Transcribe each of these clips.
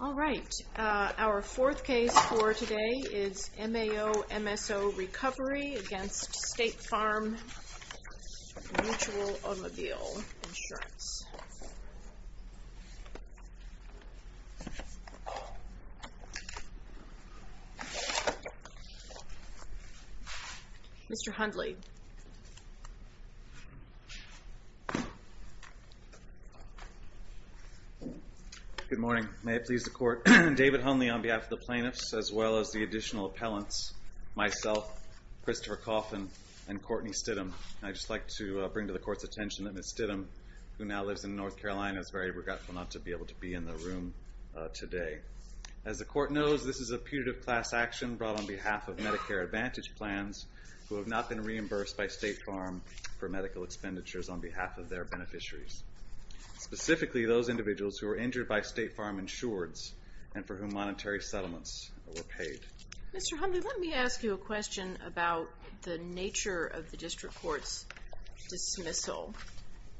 All right, our fourth case for today is MAO-MSO Recovery against State Farm Mutual Automobile Insurance. Mr. Hundley. Good morning. May it please the Court. David Hundley on behalf of the plaintiffs, as well as the additional appellants, myself, Christopher Coffin, and Courtney Stidham. I'd just like to bring to the Court's attention that Ms. Stidham, who now lives in North Carolina, is very regretful not to be able to be in the room today. As the Court knows, this is a putative class action brought on behalf of Medicare Advantage plans, who have not been reimbursed by State Farm for medical expenditures on behalf of their beneficiaries. Specifically, those individuals who were injured by State Farm insureds and for whom monetary settlements were paid. Mr. Hundley, let me ask you a question about the nature of the District Court's dismissal.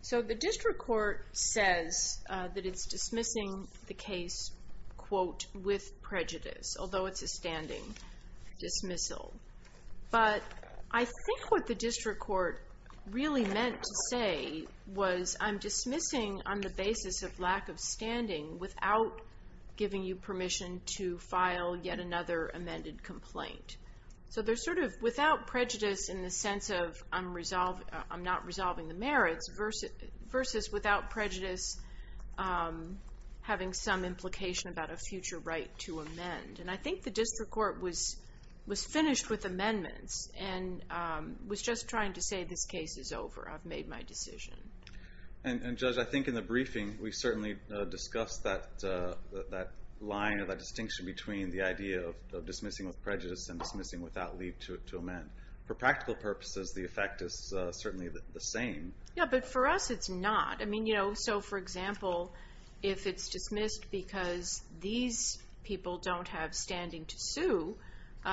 So the District Court says that it's dismissing the case, quote, with prejudice, although it's a standing dismissal. But I think what the District Court really meant to say was, I'm dismissing on the basis of lack of standing without giving you permission to file yet another amended complaint. So there's sort of without prejudice in the sense of, I'm not resolving the merits, versus without prejudice having some implication about a future right to amend. And I think the District Court was finished with amendments and was just trying to say, this case is over, I've made my decision. And Judge, I think in the briefing we certainly discussed that line or that distinction between the idea of dismissing with prejudice and dismissing without leave to amend. For practical purposes, the effect is certainly the same. Yeah, but for us it's not. I mean, so for example, if it's dismissed because these people don't have standing to sue,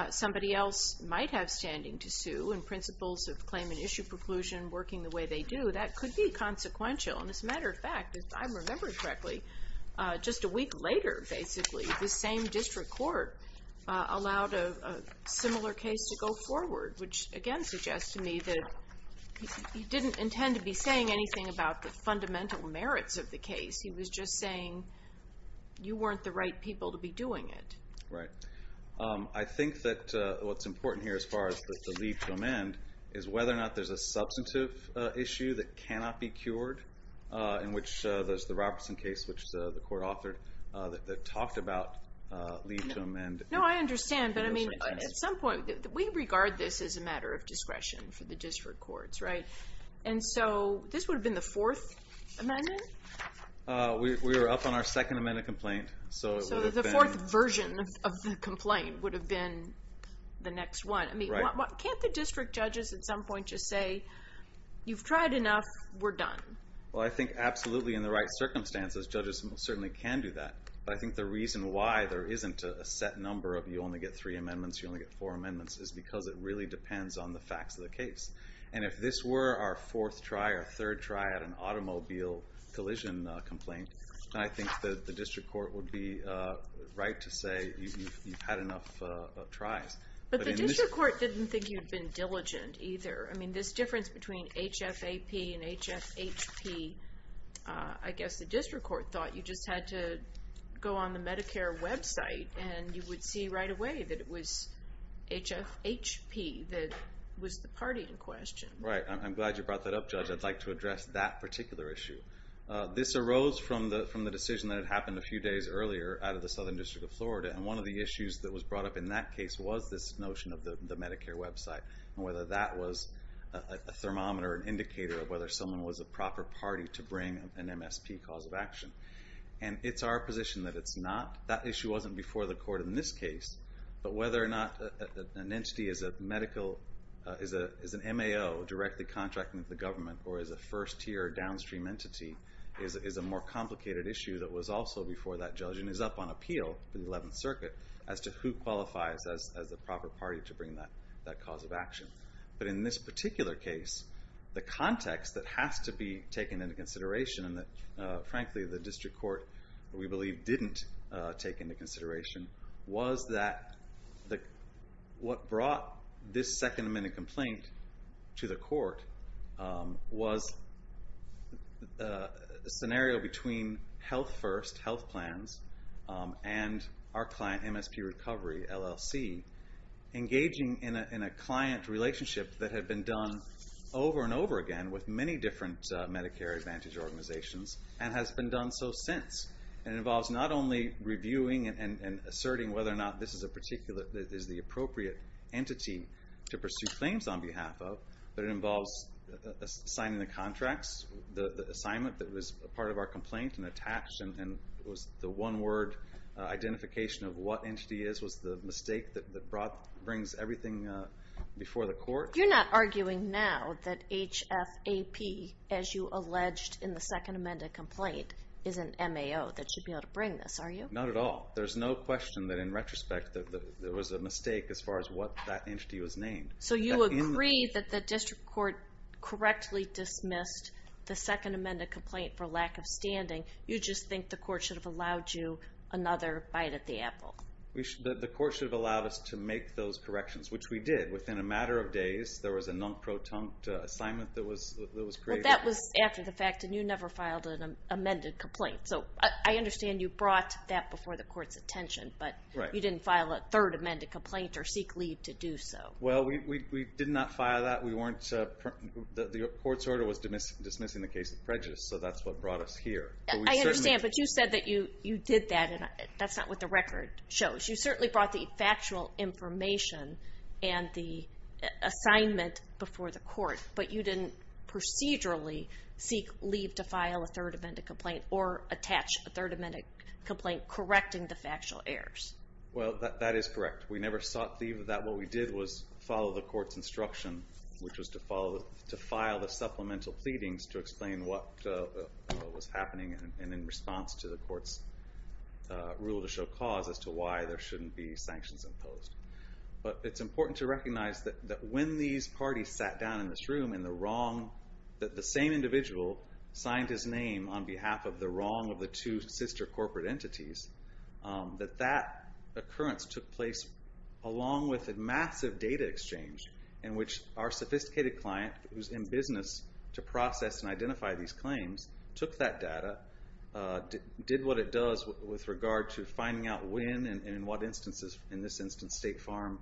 somebody else might have standing to sue and principles of claim and issue preclusion working the way they do, that could be consequential. And as a matter of fact, if I remember correctly, just a week later, basically, the same District Court allowed a similar case to go forward, which again suggests to me that he didn't intend to be saying anything about the fundamental merits of the case. He was just saying you weren't the right people to be doing it. Right. I think that what's important here as far as the leave to amend is whether or not there's a substantive issue that cannot be cured, in which there's the Robertson case, which the Court authored, that talked about leave to amend. No, I understand. But I mean, at some point, we regard this as a matter of discretion for the district courts, right? And so this would have been the fourth amendment? We were up on our second amendment complaint. So the fourth version of the complaint would have been the next one. Can't the district judges at some point just say, you've tried enough, we're done? Well, I think absolutely in the right circumstances, judges certainly can do that. But I think the reason why there isn't a set number of you only get three amendments, you only get four amendments, is because it really depends on the facts of the case. And if this were our fourth try or third try at an automobile collision complaint, then I think the district court would be right to say you've had enough tries. But the district court didn't think you'd been diligent either. I mean, this difference between HFAP and HFHP, I guess the district court thought you just had to go on the Medicare website and you would see right away that it was HFHP that was the party in question. Right. I'm glad you brought that up, Judge. I'd like to address that particular issue. This arose from the decision that had happened a few days earlier out of the Southern District of Florida. And one of the issues that was brought up in that case was this notion of the Medicare website and whether that was a thermometer, an indicator of whether someone was a proper party to bring an MSP cause of action. And it's our position that it's not. That issue wasn't before the court in this case. But whether or not an entity is an MAO directly contracting with the government or is a first-tier downstream entity is a more complicated issue that was also before that judge And the decision is up on appeal in the 11th Circuit as to who qualifies as the proper party to bring that cause of action. But in this particular case, the context that has to be taken into consideration and that, frankly, the district court, we believe, didn't take into consideration was that what brought this Second Amendment complaint to the court was a scenario between Health First, Health Plans, and our client, MSP Recovery, LLC, engaging in a client relationship that had been done over and over again with many different Medicare Advantage organizations and has been done so since. And it involves not only reviewing and asserting whether or not this is the appropriate entity to pursue claims on behalf of, but it involves signing the contracts, the assignment that was part of our complaint and the tax, and was the one-word identification of what entity it is So you're not arguing now that HFAP, as you alleged in the Second Amendment complaint, is an MAO that should be able to bring this, are you? Not at all. There's no question that, in retrospect, there was a mistake as far as what that entity was named. So you agree that the district court correctly dismissed the Second Amendment complaint for lack of standing. You just think the court should have allowed you another bite at the apple. The court should have allowed us to make those corrections, which we did. Within a matter of days, there was a non-proton assignment that was created. Well, that was after the fact, and you never filed an amended complaint. So I understand you brought that before the court's attention, but you didn't file a third amended complaint or seek leave to do so. Well, we did not file that. The court's order was dismissing the case of prejudice, so that's what brought us here. I understand, but you said that you did that, and that's not with the record. You certainly brought the factual information and the assignment before the court, but you didn't procedurally seek leave to file a third amended complaint or attach a third amended complaint correcting the factual errors. Well, that is correct. We never sought leave for that. What we did was follow the court's instruction, which was to file the supplemental pleadings to explain what was happening, and in response to the court's rule to show cause as to why there shouldn't be sanctions imposed. But it's important to recognize that when these parties sat down in this room and the same individual signed his name on behalf of the wrong of the two sister corporate entities, that that occurrence took place along with a massive data exchange in which our sophisticated client, who's in business to process and identify these claims, took that data, did what it does with regard to finding out when and in what instances. In this instance, State Farm,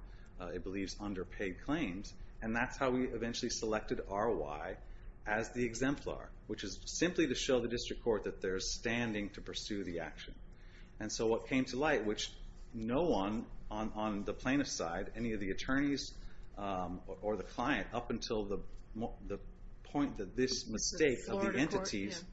it believes, underpaid claims, and that's how we eventually selected RY as the exemplar, which is simply to show the district court that they're standing to pursue the action. And so what came to light, which no one on the plaintiff's side, any of the attorneys or the client, up until the point that this mistake of the entities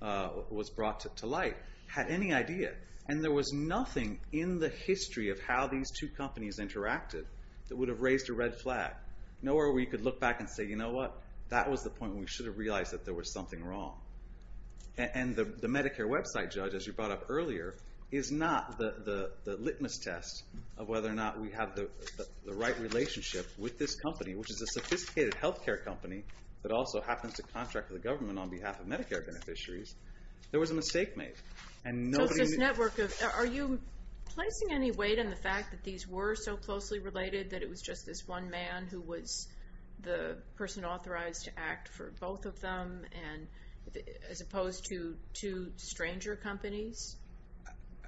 was brought to light, had any idea. And there was nothing in the history of how these two companies interacted that would have raised a red flag. Nowhere where you could look back and say, you know what, that was the point when we should have realized that there was something wrong. And the Medicare website judge, as you brought up earlier, is not the litmus test of whether or not we have the right relationship with this company, which is a sophisticated health care company that also happens to contract with the government on behalf of Medicare beneficiaries. There was a mistake made. So it's this network of, are you placing any weight on the fact that these were so closely related, that it was just this one man who was the person authorized to act for both of them, as opposed to two stranger companies?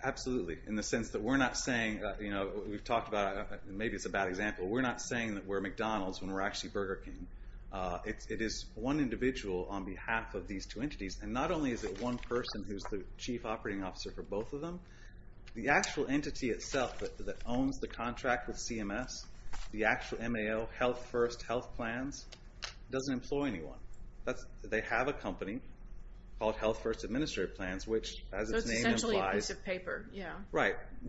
Absolutely, in the sense that we're not saying, you know, we've talked about, maybe it's a bad example, we're not saying that we're McDonald's when we're actually Burger King. It is one individual on behalf of these two entities, and not only is it one person who's the chief operating officer for both of them, the actual entity itself that owns the contract with CMS, the actual MAO, Health First Health Plans, doesn't employ anyone. They have a company called Health First Administrative Plans, which, as its name implies,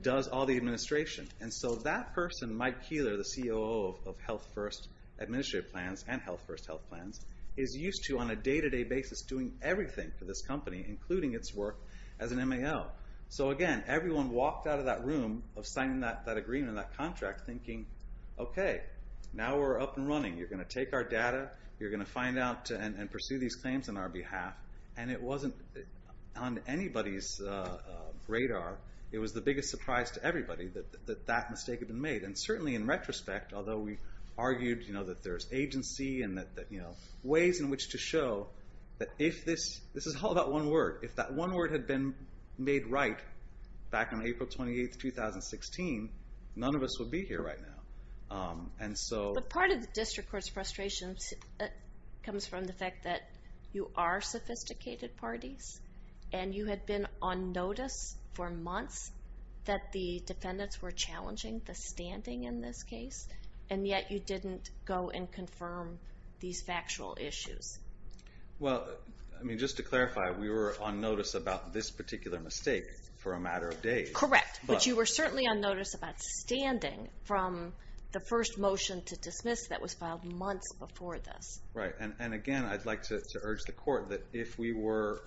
does all the administration. And so that person, Mike Keeler, the COO of Health First Administrative Plans and Health First Health Plans, is used to, on a day-to-day basis, doing everything for this company, including its work as an MAO. So again, everyone walked out of that room of signing that agreement, that contract, thinking, okay, now we're up and running. You're going to take our data, you're going to find out and pursue these claims on our behalf. And it wasn't on anybody's radar. It was the biggest surprise to everybody that that mistake had been made. And certainly in retrospect, although we argued that there's agency and ways in which to show that if this is all about one word, if that one word had been made right back on April 28, 2016, none of us would be here right now. But part of the district court's frustration comes from the fact that you are sophisticated parties, and you had been on notice for months that the defendants were challenging the standing in this case, and yet you didn't go and confirm these factual issues. Well, I mean, just to clarify, we were on notice about this particular mistake for a matter of days. Correct, but you were certainly on notice about standing from the first motion to dismiss that was filed months before this. Right, and again, I'd like to urge the court that if we were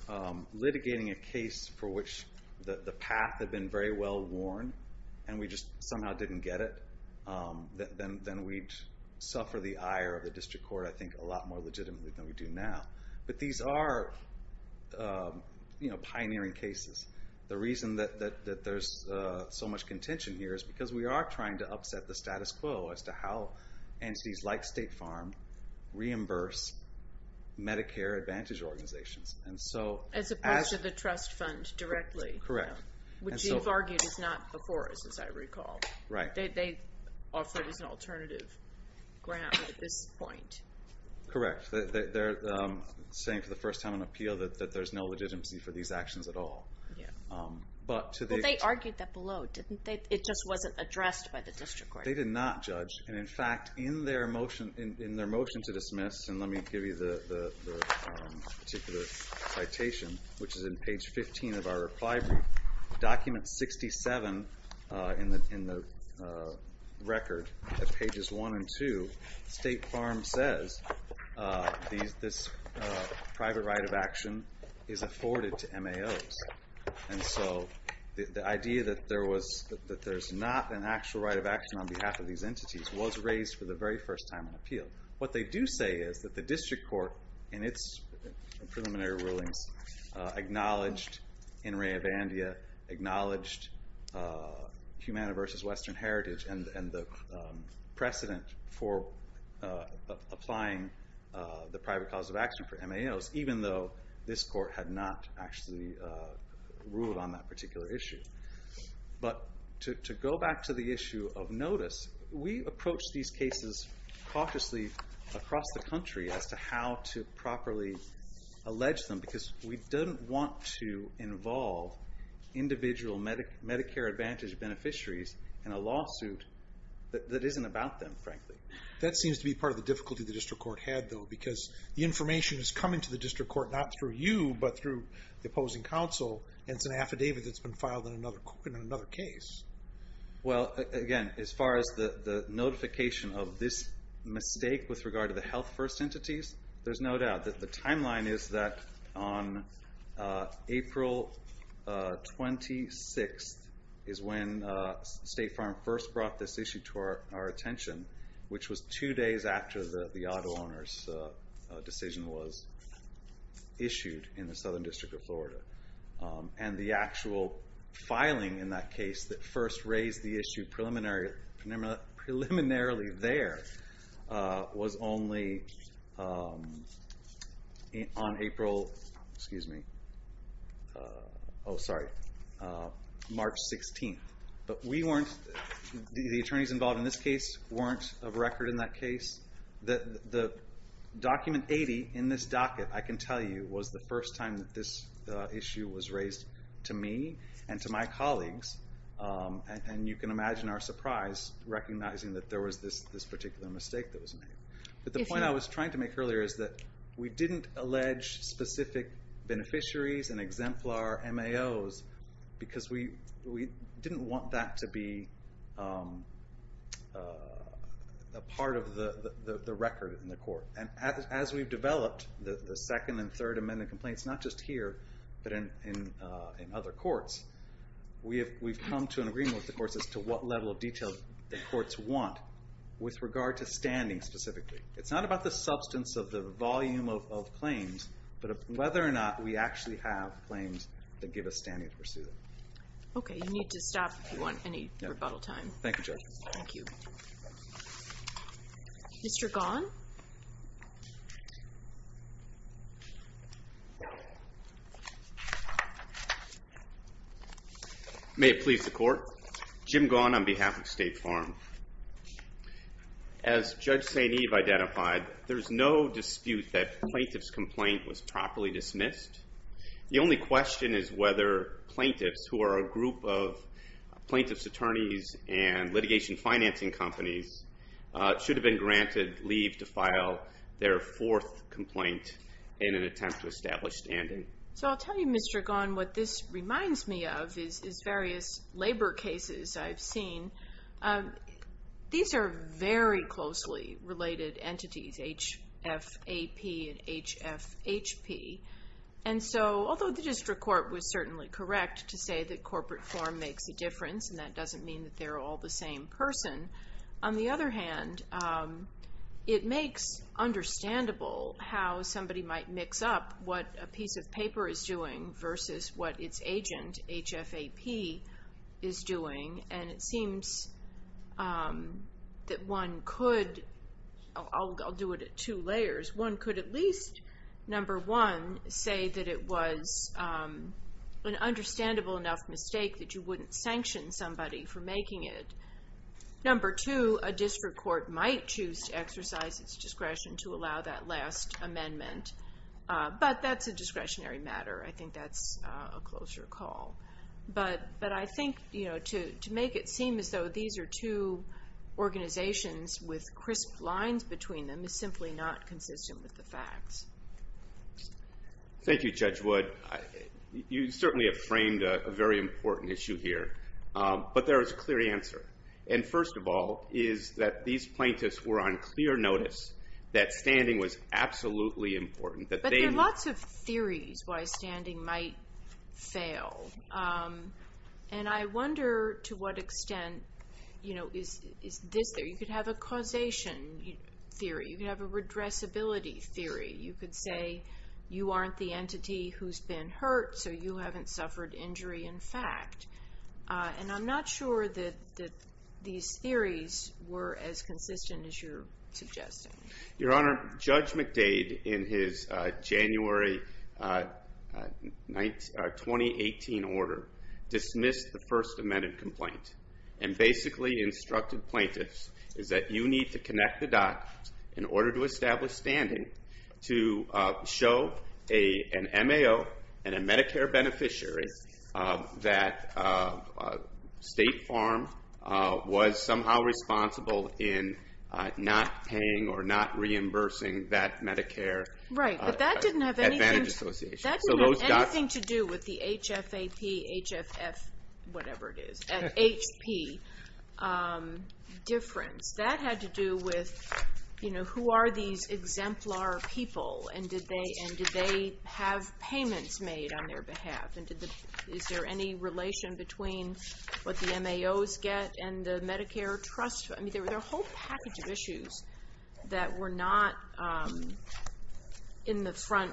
litigating a case for which the path had been very well worn and we just somehow didn't get it, then we'd suffer the ire of the district court, I think, a lot more legitimately than we do now. But these are pioneering cases. The reason that there's so much contention here is because we are trying to upset the status quo as to how entities like State Farm reimburse Medicare Advantage organizations. As opposed to the trust fund directly, which you've argued is not before us, as I recall. They offer it as an alternative grant at this point. Correct. They're saying for the first time on appeal that there's no legitimacy for these actions at all. Well, they argued that below, didn't they? It just wasn't addressed by the district court. They did not judge, and in fact, in their motion to dismiss, and let me give you the particular citation, which is in page 15 of our reply brief, document 67 in the record at pages 1 and 2, State Farm says this private right of action is afforded to MAOs. And so the idea that there's not an actual right of action on behalf of these entities was raised for the very first time on appeal. What they do say is that the district court, in its preliminary rulings, acknowledged in Rehobandia, acknowledged Humana versus Western Heritage and the precedent for applying the private cause of action for MAOs, even though this court had not actually ruled on that particular issue. But to go back to the issue of notice, we approach these cases cautiously across the country as to how to properly allege them, because we don't want to involve individual Medicare Advantage beneficiaries in a lawsuit that isn't about them, frankly. That seems to be part of the difficulty the district court had, though, because the information is coming to the district court not through you, but through the opposing counsel, and it's an affidavit that's been filed in another case. Well, again, as far as the notification of this mistake with regard to the health-first entities, there's no doubt that the timeline is that on April 26th is when State Farm first brought this issue to our attention, which was two days after the auto owner's decision was issued in the Southern District of Florida. And the actual filing in that case that first raised the issue preliminarily there was only on March 16th. But the attorneys involved in this case weren't of record in that case. Document 80 in this docket, I can tell you, was the first time that this issue was raised to me and to my colleagues, and you can imagine our surprise recognizing that there was this particular mistake that was made. But the point I was trying to make earlier is that we didn't allege specific beneficiaries and exemplar MAOs, because we didn't want that to be a part of the record in the court. And as we've developed the Second and Third Amendment complaints, not just here, but in other courts, we've come to an agreement with the courts as to what level of detail the courts want with regard to standing specifically. It's not about the substance of the volume of claims, but whether or not we actually have claims that give us standing to pursue them. Okay, you need to stop if you want any rebuttal time. Thank you, Judge. Thank you. Mr. Gahn? May it please the Court. Jim Gahn on behalf of State Farm. As Judge St. Eve identified, there's no dispute that plaintiff's complaint was properly dismissed. The only question is whether plaintiffs who are a group of plaintiff's attorneys and litigation financing companies should have been granted leave to file their fourth complaint in an attempt to establish standing. So I'll tell you, Mr. Gahn, what this reminds me of is various labor cases I've seen. These are very closely related entities, HFAP and HFHP. And so although the district court was certainly correct to say that corporate form makes a difference and that doesn't mean that they're all the same person, on the other hand, it makes understandable how somebody might mix up what a piece of paper is doing versus what its agent, HFAP, is doing. And it seems that one could, I'll do it at two layers, one could at least, number one, say that it was an understandable enough mistake that you wouldn't sanction somebody for making it. Number two, a district court might choose to exercise its discretion to allow that last amendment. But that's a discretionary matter. I think that's a closer call. But I think to make it seem as though these are two organizations with crisp lines between them is simply not consistent with the facts. Thank you, Judge Wood. You certainly have framed a very important issue here. But there is a clear answer. And first of all is that these plaintiffs were on clear notice that standing was absolutely important. But there are lots of theories why standing might fail. And I wonder to what extent is this there. You could have a causation theory. You could have a redressability theory. You could say you aren't the entity who's been hurt, so you haven't suffered injury in fact. And I'm not sure that these theories were as consistent as you're suggesting. Your Honor, Judge McDade in his January 2018 order dismissed the first amended complaint and basically instructed plaintiffs that you need to connect the dots in order to establish standing to show an MAO and a Medicare beneficiary that State Farm was somehow responsible in not paying or not reimbursing that Medicare Advantage Association. Right, but that didn't have anything to do with the HFAP, HFF, whatever it is, HP difference. That had to do with who are these exemplar people and did they have payments made on their behalf. And is there any relation between what the MAOs get and the Medicare trust? I mean, there were a whole package of issues that were not in the front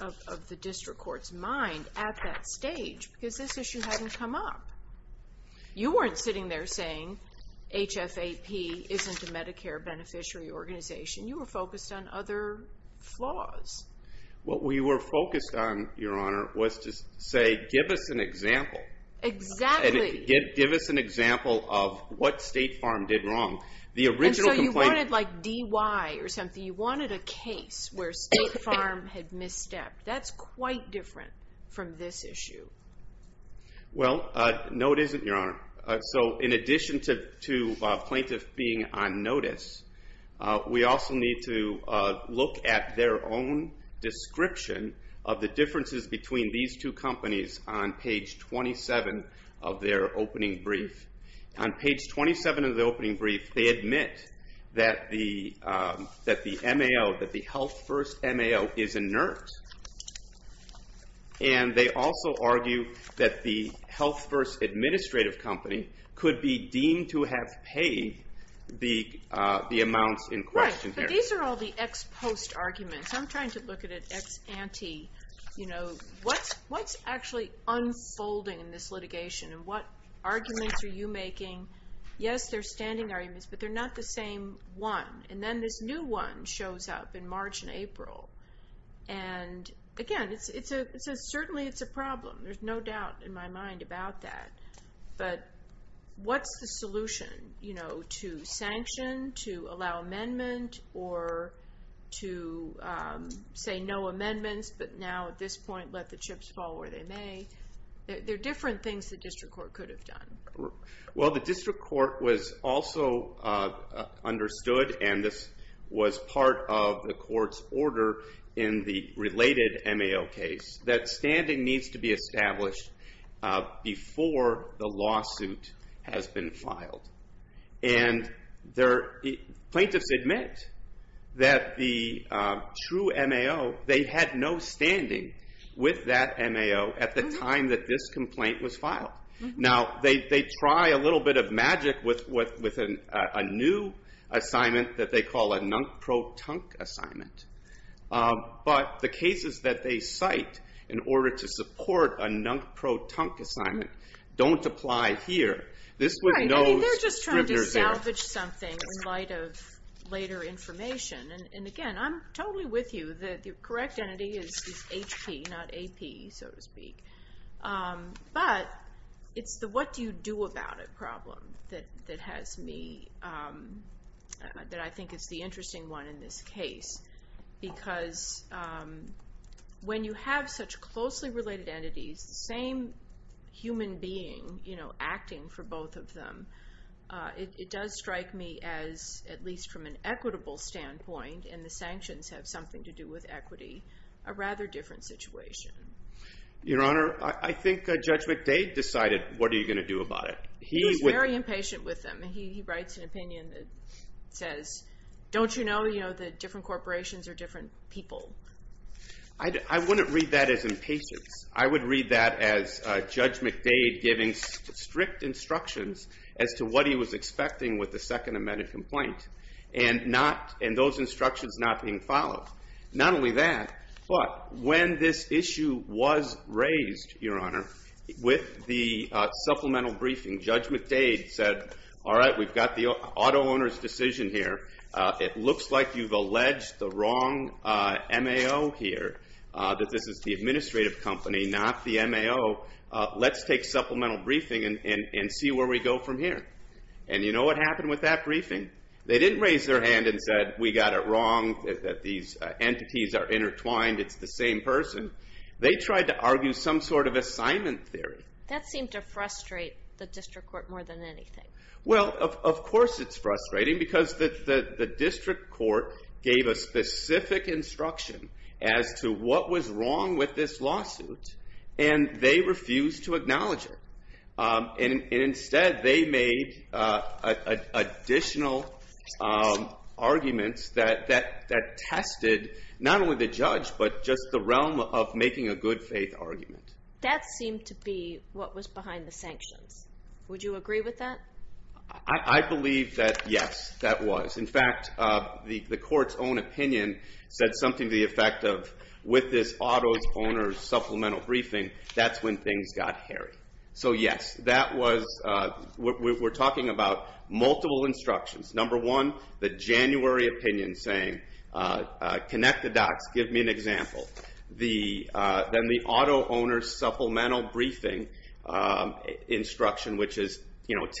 of the district court's mind at that stage because this issue hadn't come up. You weren't sitting there saying HFAP isn't a Medicare beneficiary organization. You were focused on other flaws. What we were focused on, Your Honor, was to say give us an example. Exactly. Give us an example of what State Farm did wrong. And so you wanted like DY or something. You wanted a case where State Farm had misstepped. That's quite different from this issue. Well, no it isn't, Your Honor. So in addition to plaintiff being on notice, we also need to look at their own description of the differences between these two companies on page 27 of their opening brief. On page 27 of the opening brief, they admit that the MAO, that the Health First MAO is inert. And they also argue that the Health First administrative company could be deemed to have paid the amounts in question. Right, but these are all the ex-post arguments. I'm trying to look at it ex-ante. What's actually unfolding in this litigation and what arguments are you making? Yes, they're standing arguments, but they're not the same one. And again, certainly it's a problem. There's no doubt in my mind about that. But what's the solution? You know, to sanction, to allow amendment, or to say no amendments, but now at this point let the chips fall where they may. There are different things the district court could have done. Well, the district court was also understood, and this was part of the court's order in the related MAO case, that standing needs to be established before the lawsuit has been filed. And plaintiffs admit that the true MAO, they had no standing with that MAO at the time that this complaint was filed. Now, they try a little bit of magic with a new assignment that they call a nunk-pro-tunk assignment. But the cases that they cite in order to support a nunk-pro-tunk assignment don't apply here. Right, I mean, they're just trying to salvage something in light of later information. And again, I'm totally with you that the correct entity is HP, not AP, so to speak. But it's the what-do-you-do-about-it problem that has me, that I think is the interesting one in this case. Because when you have such closely related entities, the same human being, you know, acting for both of them, it does strike me as, at least from an equitable standpoint, and the sanctions have something to do with equity, a rather different situation. Your Honor, I think Judge McDade decided what are you going to do about it. He was very impatient with them. He writes an opinion that says, don't you know, you know, that different corporations are different people? I wouldn't read that as impatience. I would read that as Judge McDade giving strict instructions as to what he was expecting with the second amended complaint. And those instructions not being followed. Not only that, but when this issue was raised, Your Honor, with the supplemental briefing, Judge McDade said, all right, we've got the auto owner's decision here. It looks like you've alleged the wrong MAO here, that this is the administrative company, not the MAO. Let's take supplemental briefing and see where we go from here. And you know what happened with that briefing? They didn't raise their hand and said, we got it wrong, that these entities are intertwined, it's the same person. They tried to argue some sort of assignment theory. That seemed to frustrate the district court more than anything. Well, of course it's frustrating, because the district court gave a specific instruction as to what was wrong with this lawsuit, and they refused to acknowledge it. And instead, they made additional arguments that tested not only the judge, but just the realm of making a good faith argument. That seemed to be what was behind the sanctions. Would you agree with that? I believe that, yes, that was. In fact, the court's own opinion said something to the effect of, with this auto owner's supplemental briefing, that's when things got hairy. So yes, that was, we're talking about multiple instructions. Number one, the January opinion saying, connect the dots, give me an example. Then the auto owner's supplemental briefing instruction, which is,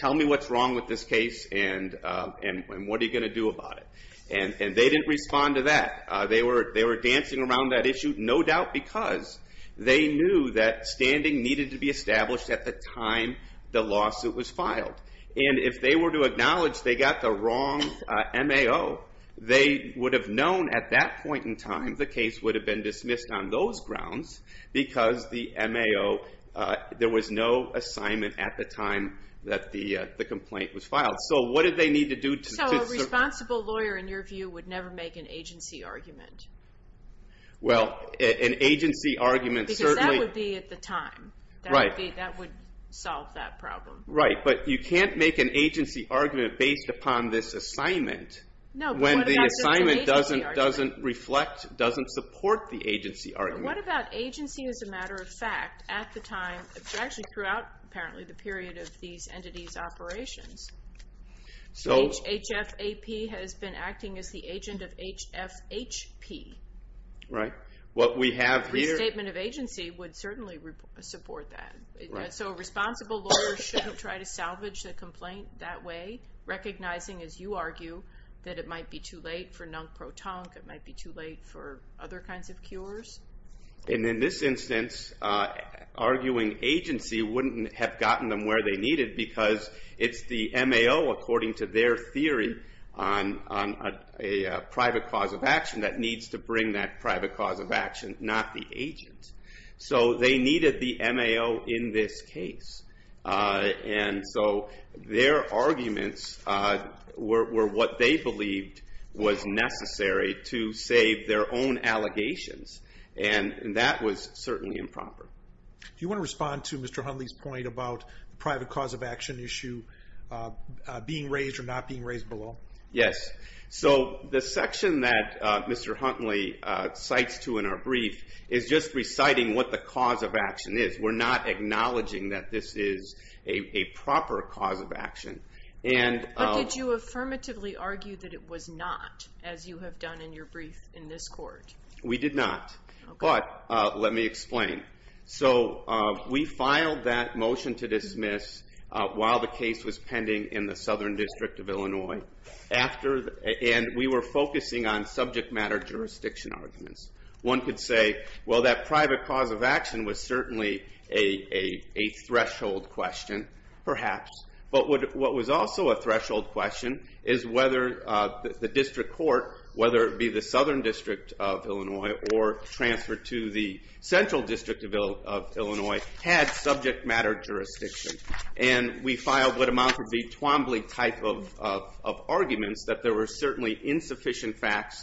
tell me what's wrong with this case, and what are you going to do about it? And they didn't respond to that. They were dancing around that issue, no doubt because they knew that standing needed to be established at the time the lawsuit was filed. And if they were to acknowledge they got the wrong MAO, they would have known at that point in time the case would have been dismissed on those grounds, because the MAO, there was no assignment at the time that the complaint was filed. So what did they need to do to- would never make an agency argument. Well, an agency argument certainly- Because that would be at the time. Right. That would solve that problem. Right, but you can't make an agency argument based upon this assignment. No, but what about- When the assignment doesn't reflect, doesn't support the agency argument. What about agency as a matter of fact at the time, actually throughout, apparently, the period of these entities' operations? So- HFAP has been acting as the agent of HFHP. Right. What we have here- Restatement of agency would certainly support that. Right. So a responsible lawyer shouldn't try to salvage the complaint that way, recognizing, as you argue, that it might be too late for nunk-pro-tunk, it might be too late for other kinds of cures. And in this instance, arguing agency wouldn't have gotten them where they needed because it's the MAO, according to their theory, on a private cause of action that needs to bring that private cause of action, not the agent. So they needed the MAO in this case. And so their arguments were what they believed was necessary to save their own allegations. And that was certainly improper. Do you want to respond to Mr. Huntley's point about the private cause of action issue being raised or not being raised below? Yes. So the section that Mr. Huntley cites to in our brief is just reciting what the cause of action is. We're not acknowledging that this is a proper cause of action. But did you affirmatively argue that it was not, as you have done in your brief in this court? We did not. But let me explain. So we filed that motion to dismiss while the case was pending in the Southern District of Illinois. And we were focusing on subject matter jurisdiction arguments. One could say, well, that private cause of action was certainly a threshold question, perhaps. But what was also a threshold question is whether the district court, whether it be the Southern District of Illinois or transferred to the Central District of Illinois, had subject matter jurisdiction. And we filed what amounted to the Twombly type of arguments that there were certainly insufficient facts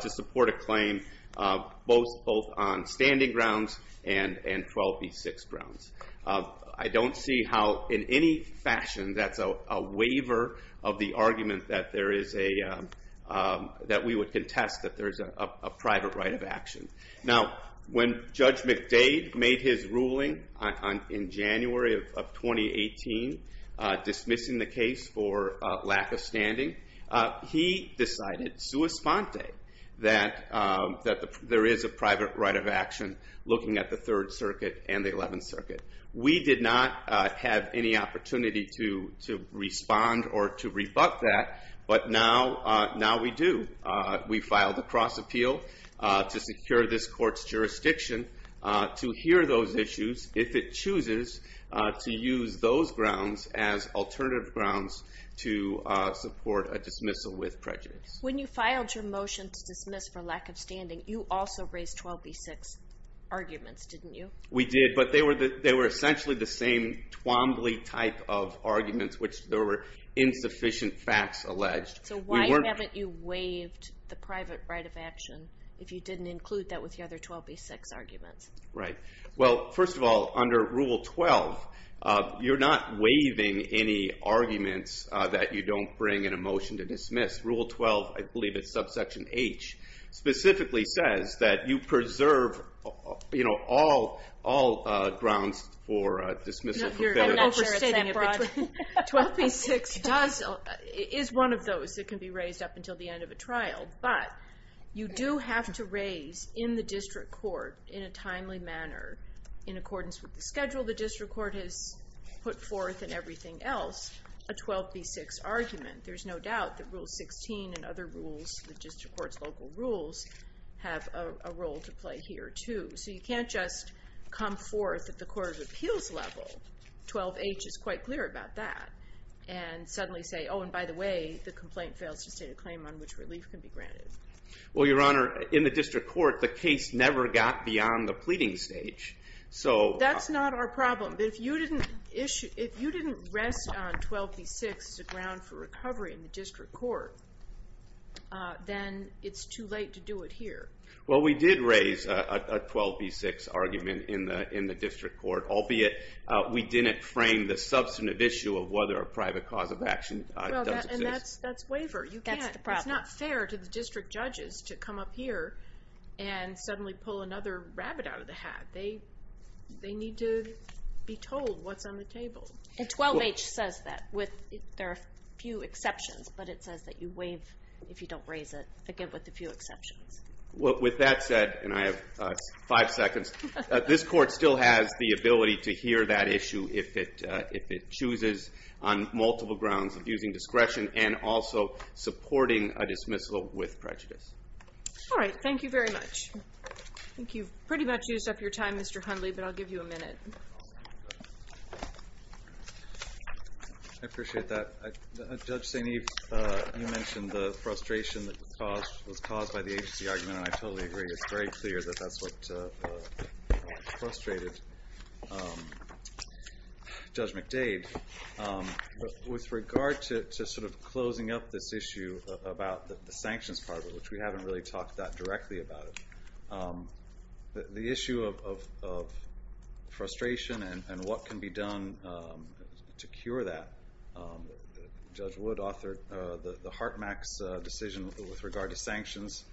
to support a claim, both on standing grounds and 12b6 grounds. I don't see how in any fashion that's a waiver of the argument that there is a, that we would contest that there's a private right of action. Now, when Judge McDade made his ruling in January of 2018 dismissing the case for lack of standing, he decided, sua sponte, that there is a private right of action looking at the Third Circuit and the Eleventh Circuit. We did not have any opportunity to respond or to rebut that. But now we do. We filed a cross appeal to secure this court's jurisdiction to hear those issues, if it chooses to use those grounds as alternative grounds to support a dismissal with prejudice. When you filed your motion to dismiss for lack of standing, you also raised 12b6 arguments, didn't you? We did, but they were essentially the same Twombly type of arguments, which there were insufficient facts alleged. So why haven't you waived the private right of action if you didn't include that with the other 12b6 arguments? Right. Well, first of all, under Rule 12, you're not waiving any arguments that you don't bring in a motion to dismiss. Rule 12, I believe it's subsection H, specifically says that you preserve, you know, all grounds for dismissal. 12b6 is one of those that can be raised up until the end of a trial. But you do have to raise, in the district court, in a timely manner, in accordance with the schedule the district court has put forth and everything else, a 12b6 argument. There's no doubt that Rule 16 and other rules, the district court's local rules, have a role to play here, too. So you can't just come forth at the court of appeals level, 12h is quite clear about that, and suddenly say, oh, and by the way, the complaint fails to state a claim on which relief can be granted. Well, Your Honor, in the district court, the case never got beyond the pleading stage. That's not our problem. But if you didn't rest on 12b6 as a ground for recovery in the district court, then it's too late to do it here. Well, we did raise a 12b6 argument in the district court, albeit we didn't frame the substantive issue of whether a private cause of action does exist. Well, and that's waiver. That's the problem. It's not fair to the district judges to come up here and suddenly pull another rabbit out of the hat. They need to be told what's on the table. And 12h says that, there are a few exceptions, but it says that you waive if you don't raise it, again, with a few exceptions. Well, with that said, and I have five seconds, this court still has the ability to hear that issue if it chooses, on multiple grounds, of using discretion and also supporting a dismissal with prejudice. All right. Thank you very much. I think you've pretty much used up your time, Mr. Hundley, but I'll give you a minute. I appreciate that. Judge St. Eve, you mentioned the frustration that was caused by the agency argument, and I totally agree. It's very clear that that's what frustrated Judge McDade. With regard to sort of closing up this issue about the sanctions part of it, which we haven't really talked that directly about it, the issue of frustration and what can be done to cure that, Judge Wood authored the Hartmack's decision with regard to sanctions,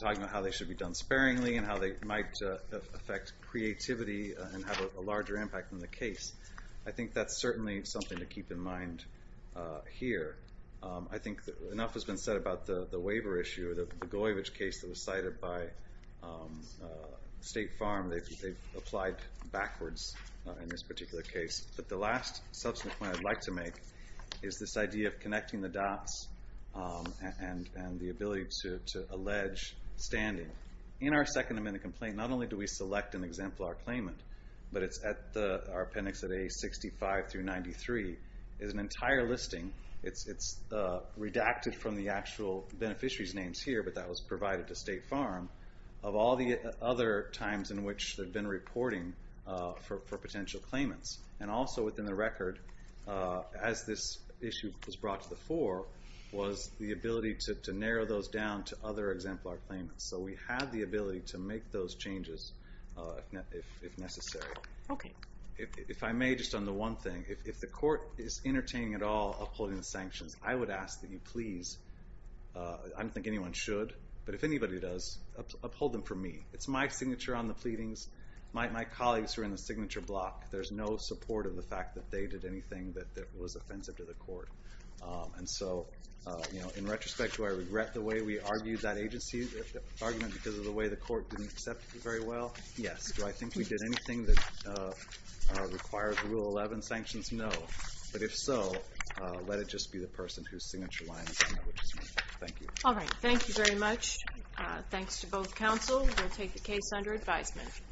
talking about how they should be done sparingly and how they might affect creativity and have a larger impact on the case. I think that's certainly something to keep in mind here. I think enough has been said about the waiver issue or the Goyvich case that was cited by State Farm. They've applied backwards in this particular case. But the last substantive point I'd like to make is this idea of connecting the dots and the ability to allege standing. In our Second Amendment complaint, not only do we select an exemplar claimant, but our appendix at A65 through 93 is an entire listing. It's redacted from the actual beneficiary's names here, but that was provided to State Farm, of all the other times in which they've been reporting for potential claimants. And also within the record, as this issue was brought to the fore, was the ability to narrow those down to other exemplar claimants. So we had the ability to make those changes if necessary. If I may, just on the one thing, if the court is entertaining at all upholding the sanctions, I would ask that you please, I don't think anyone should, but if anybody does, uphold them for me. It's my signature on the pleadings. My colleagues are in the signature block. There's no support of the fact that they did anything that was offensive to the court. And so in retrospect, do I regret the way we argued that argument because of the way the court didn't accept it very well? Yes. Do I think we did anything that requires Rule 11 sanctions? No. But if so, let it just be the person whose signature line is on it, which is me. Thank you. All right. Thank you very much. Thanks to both counsel. We'll take the case under advisement.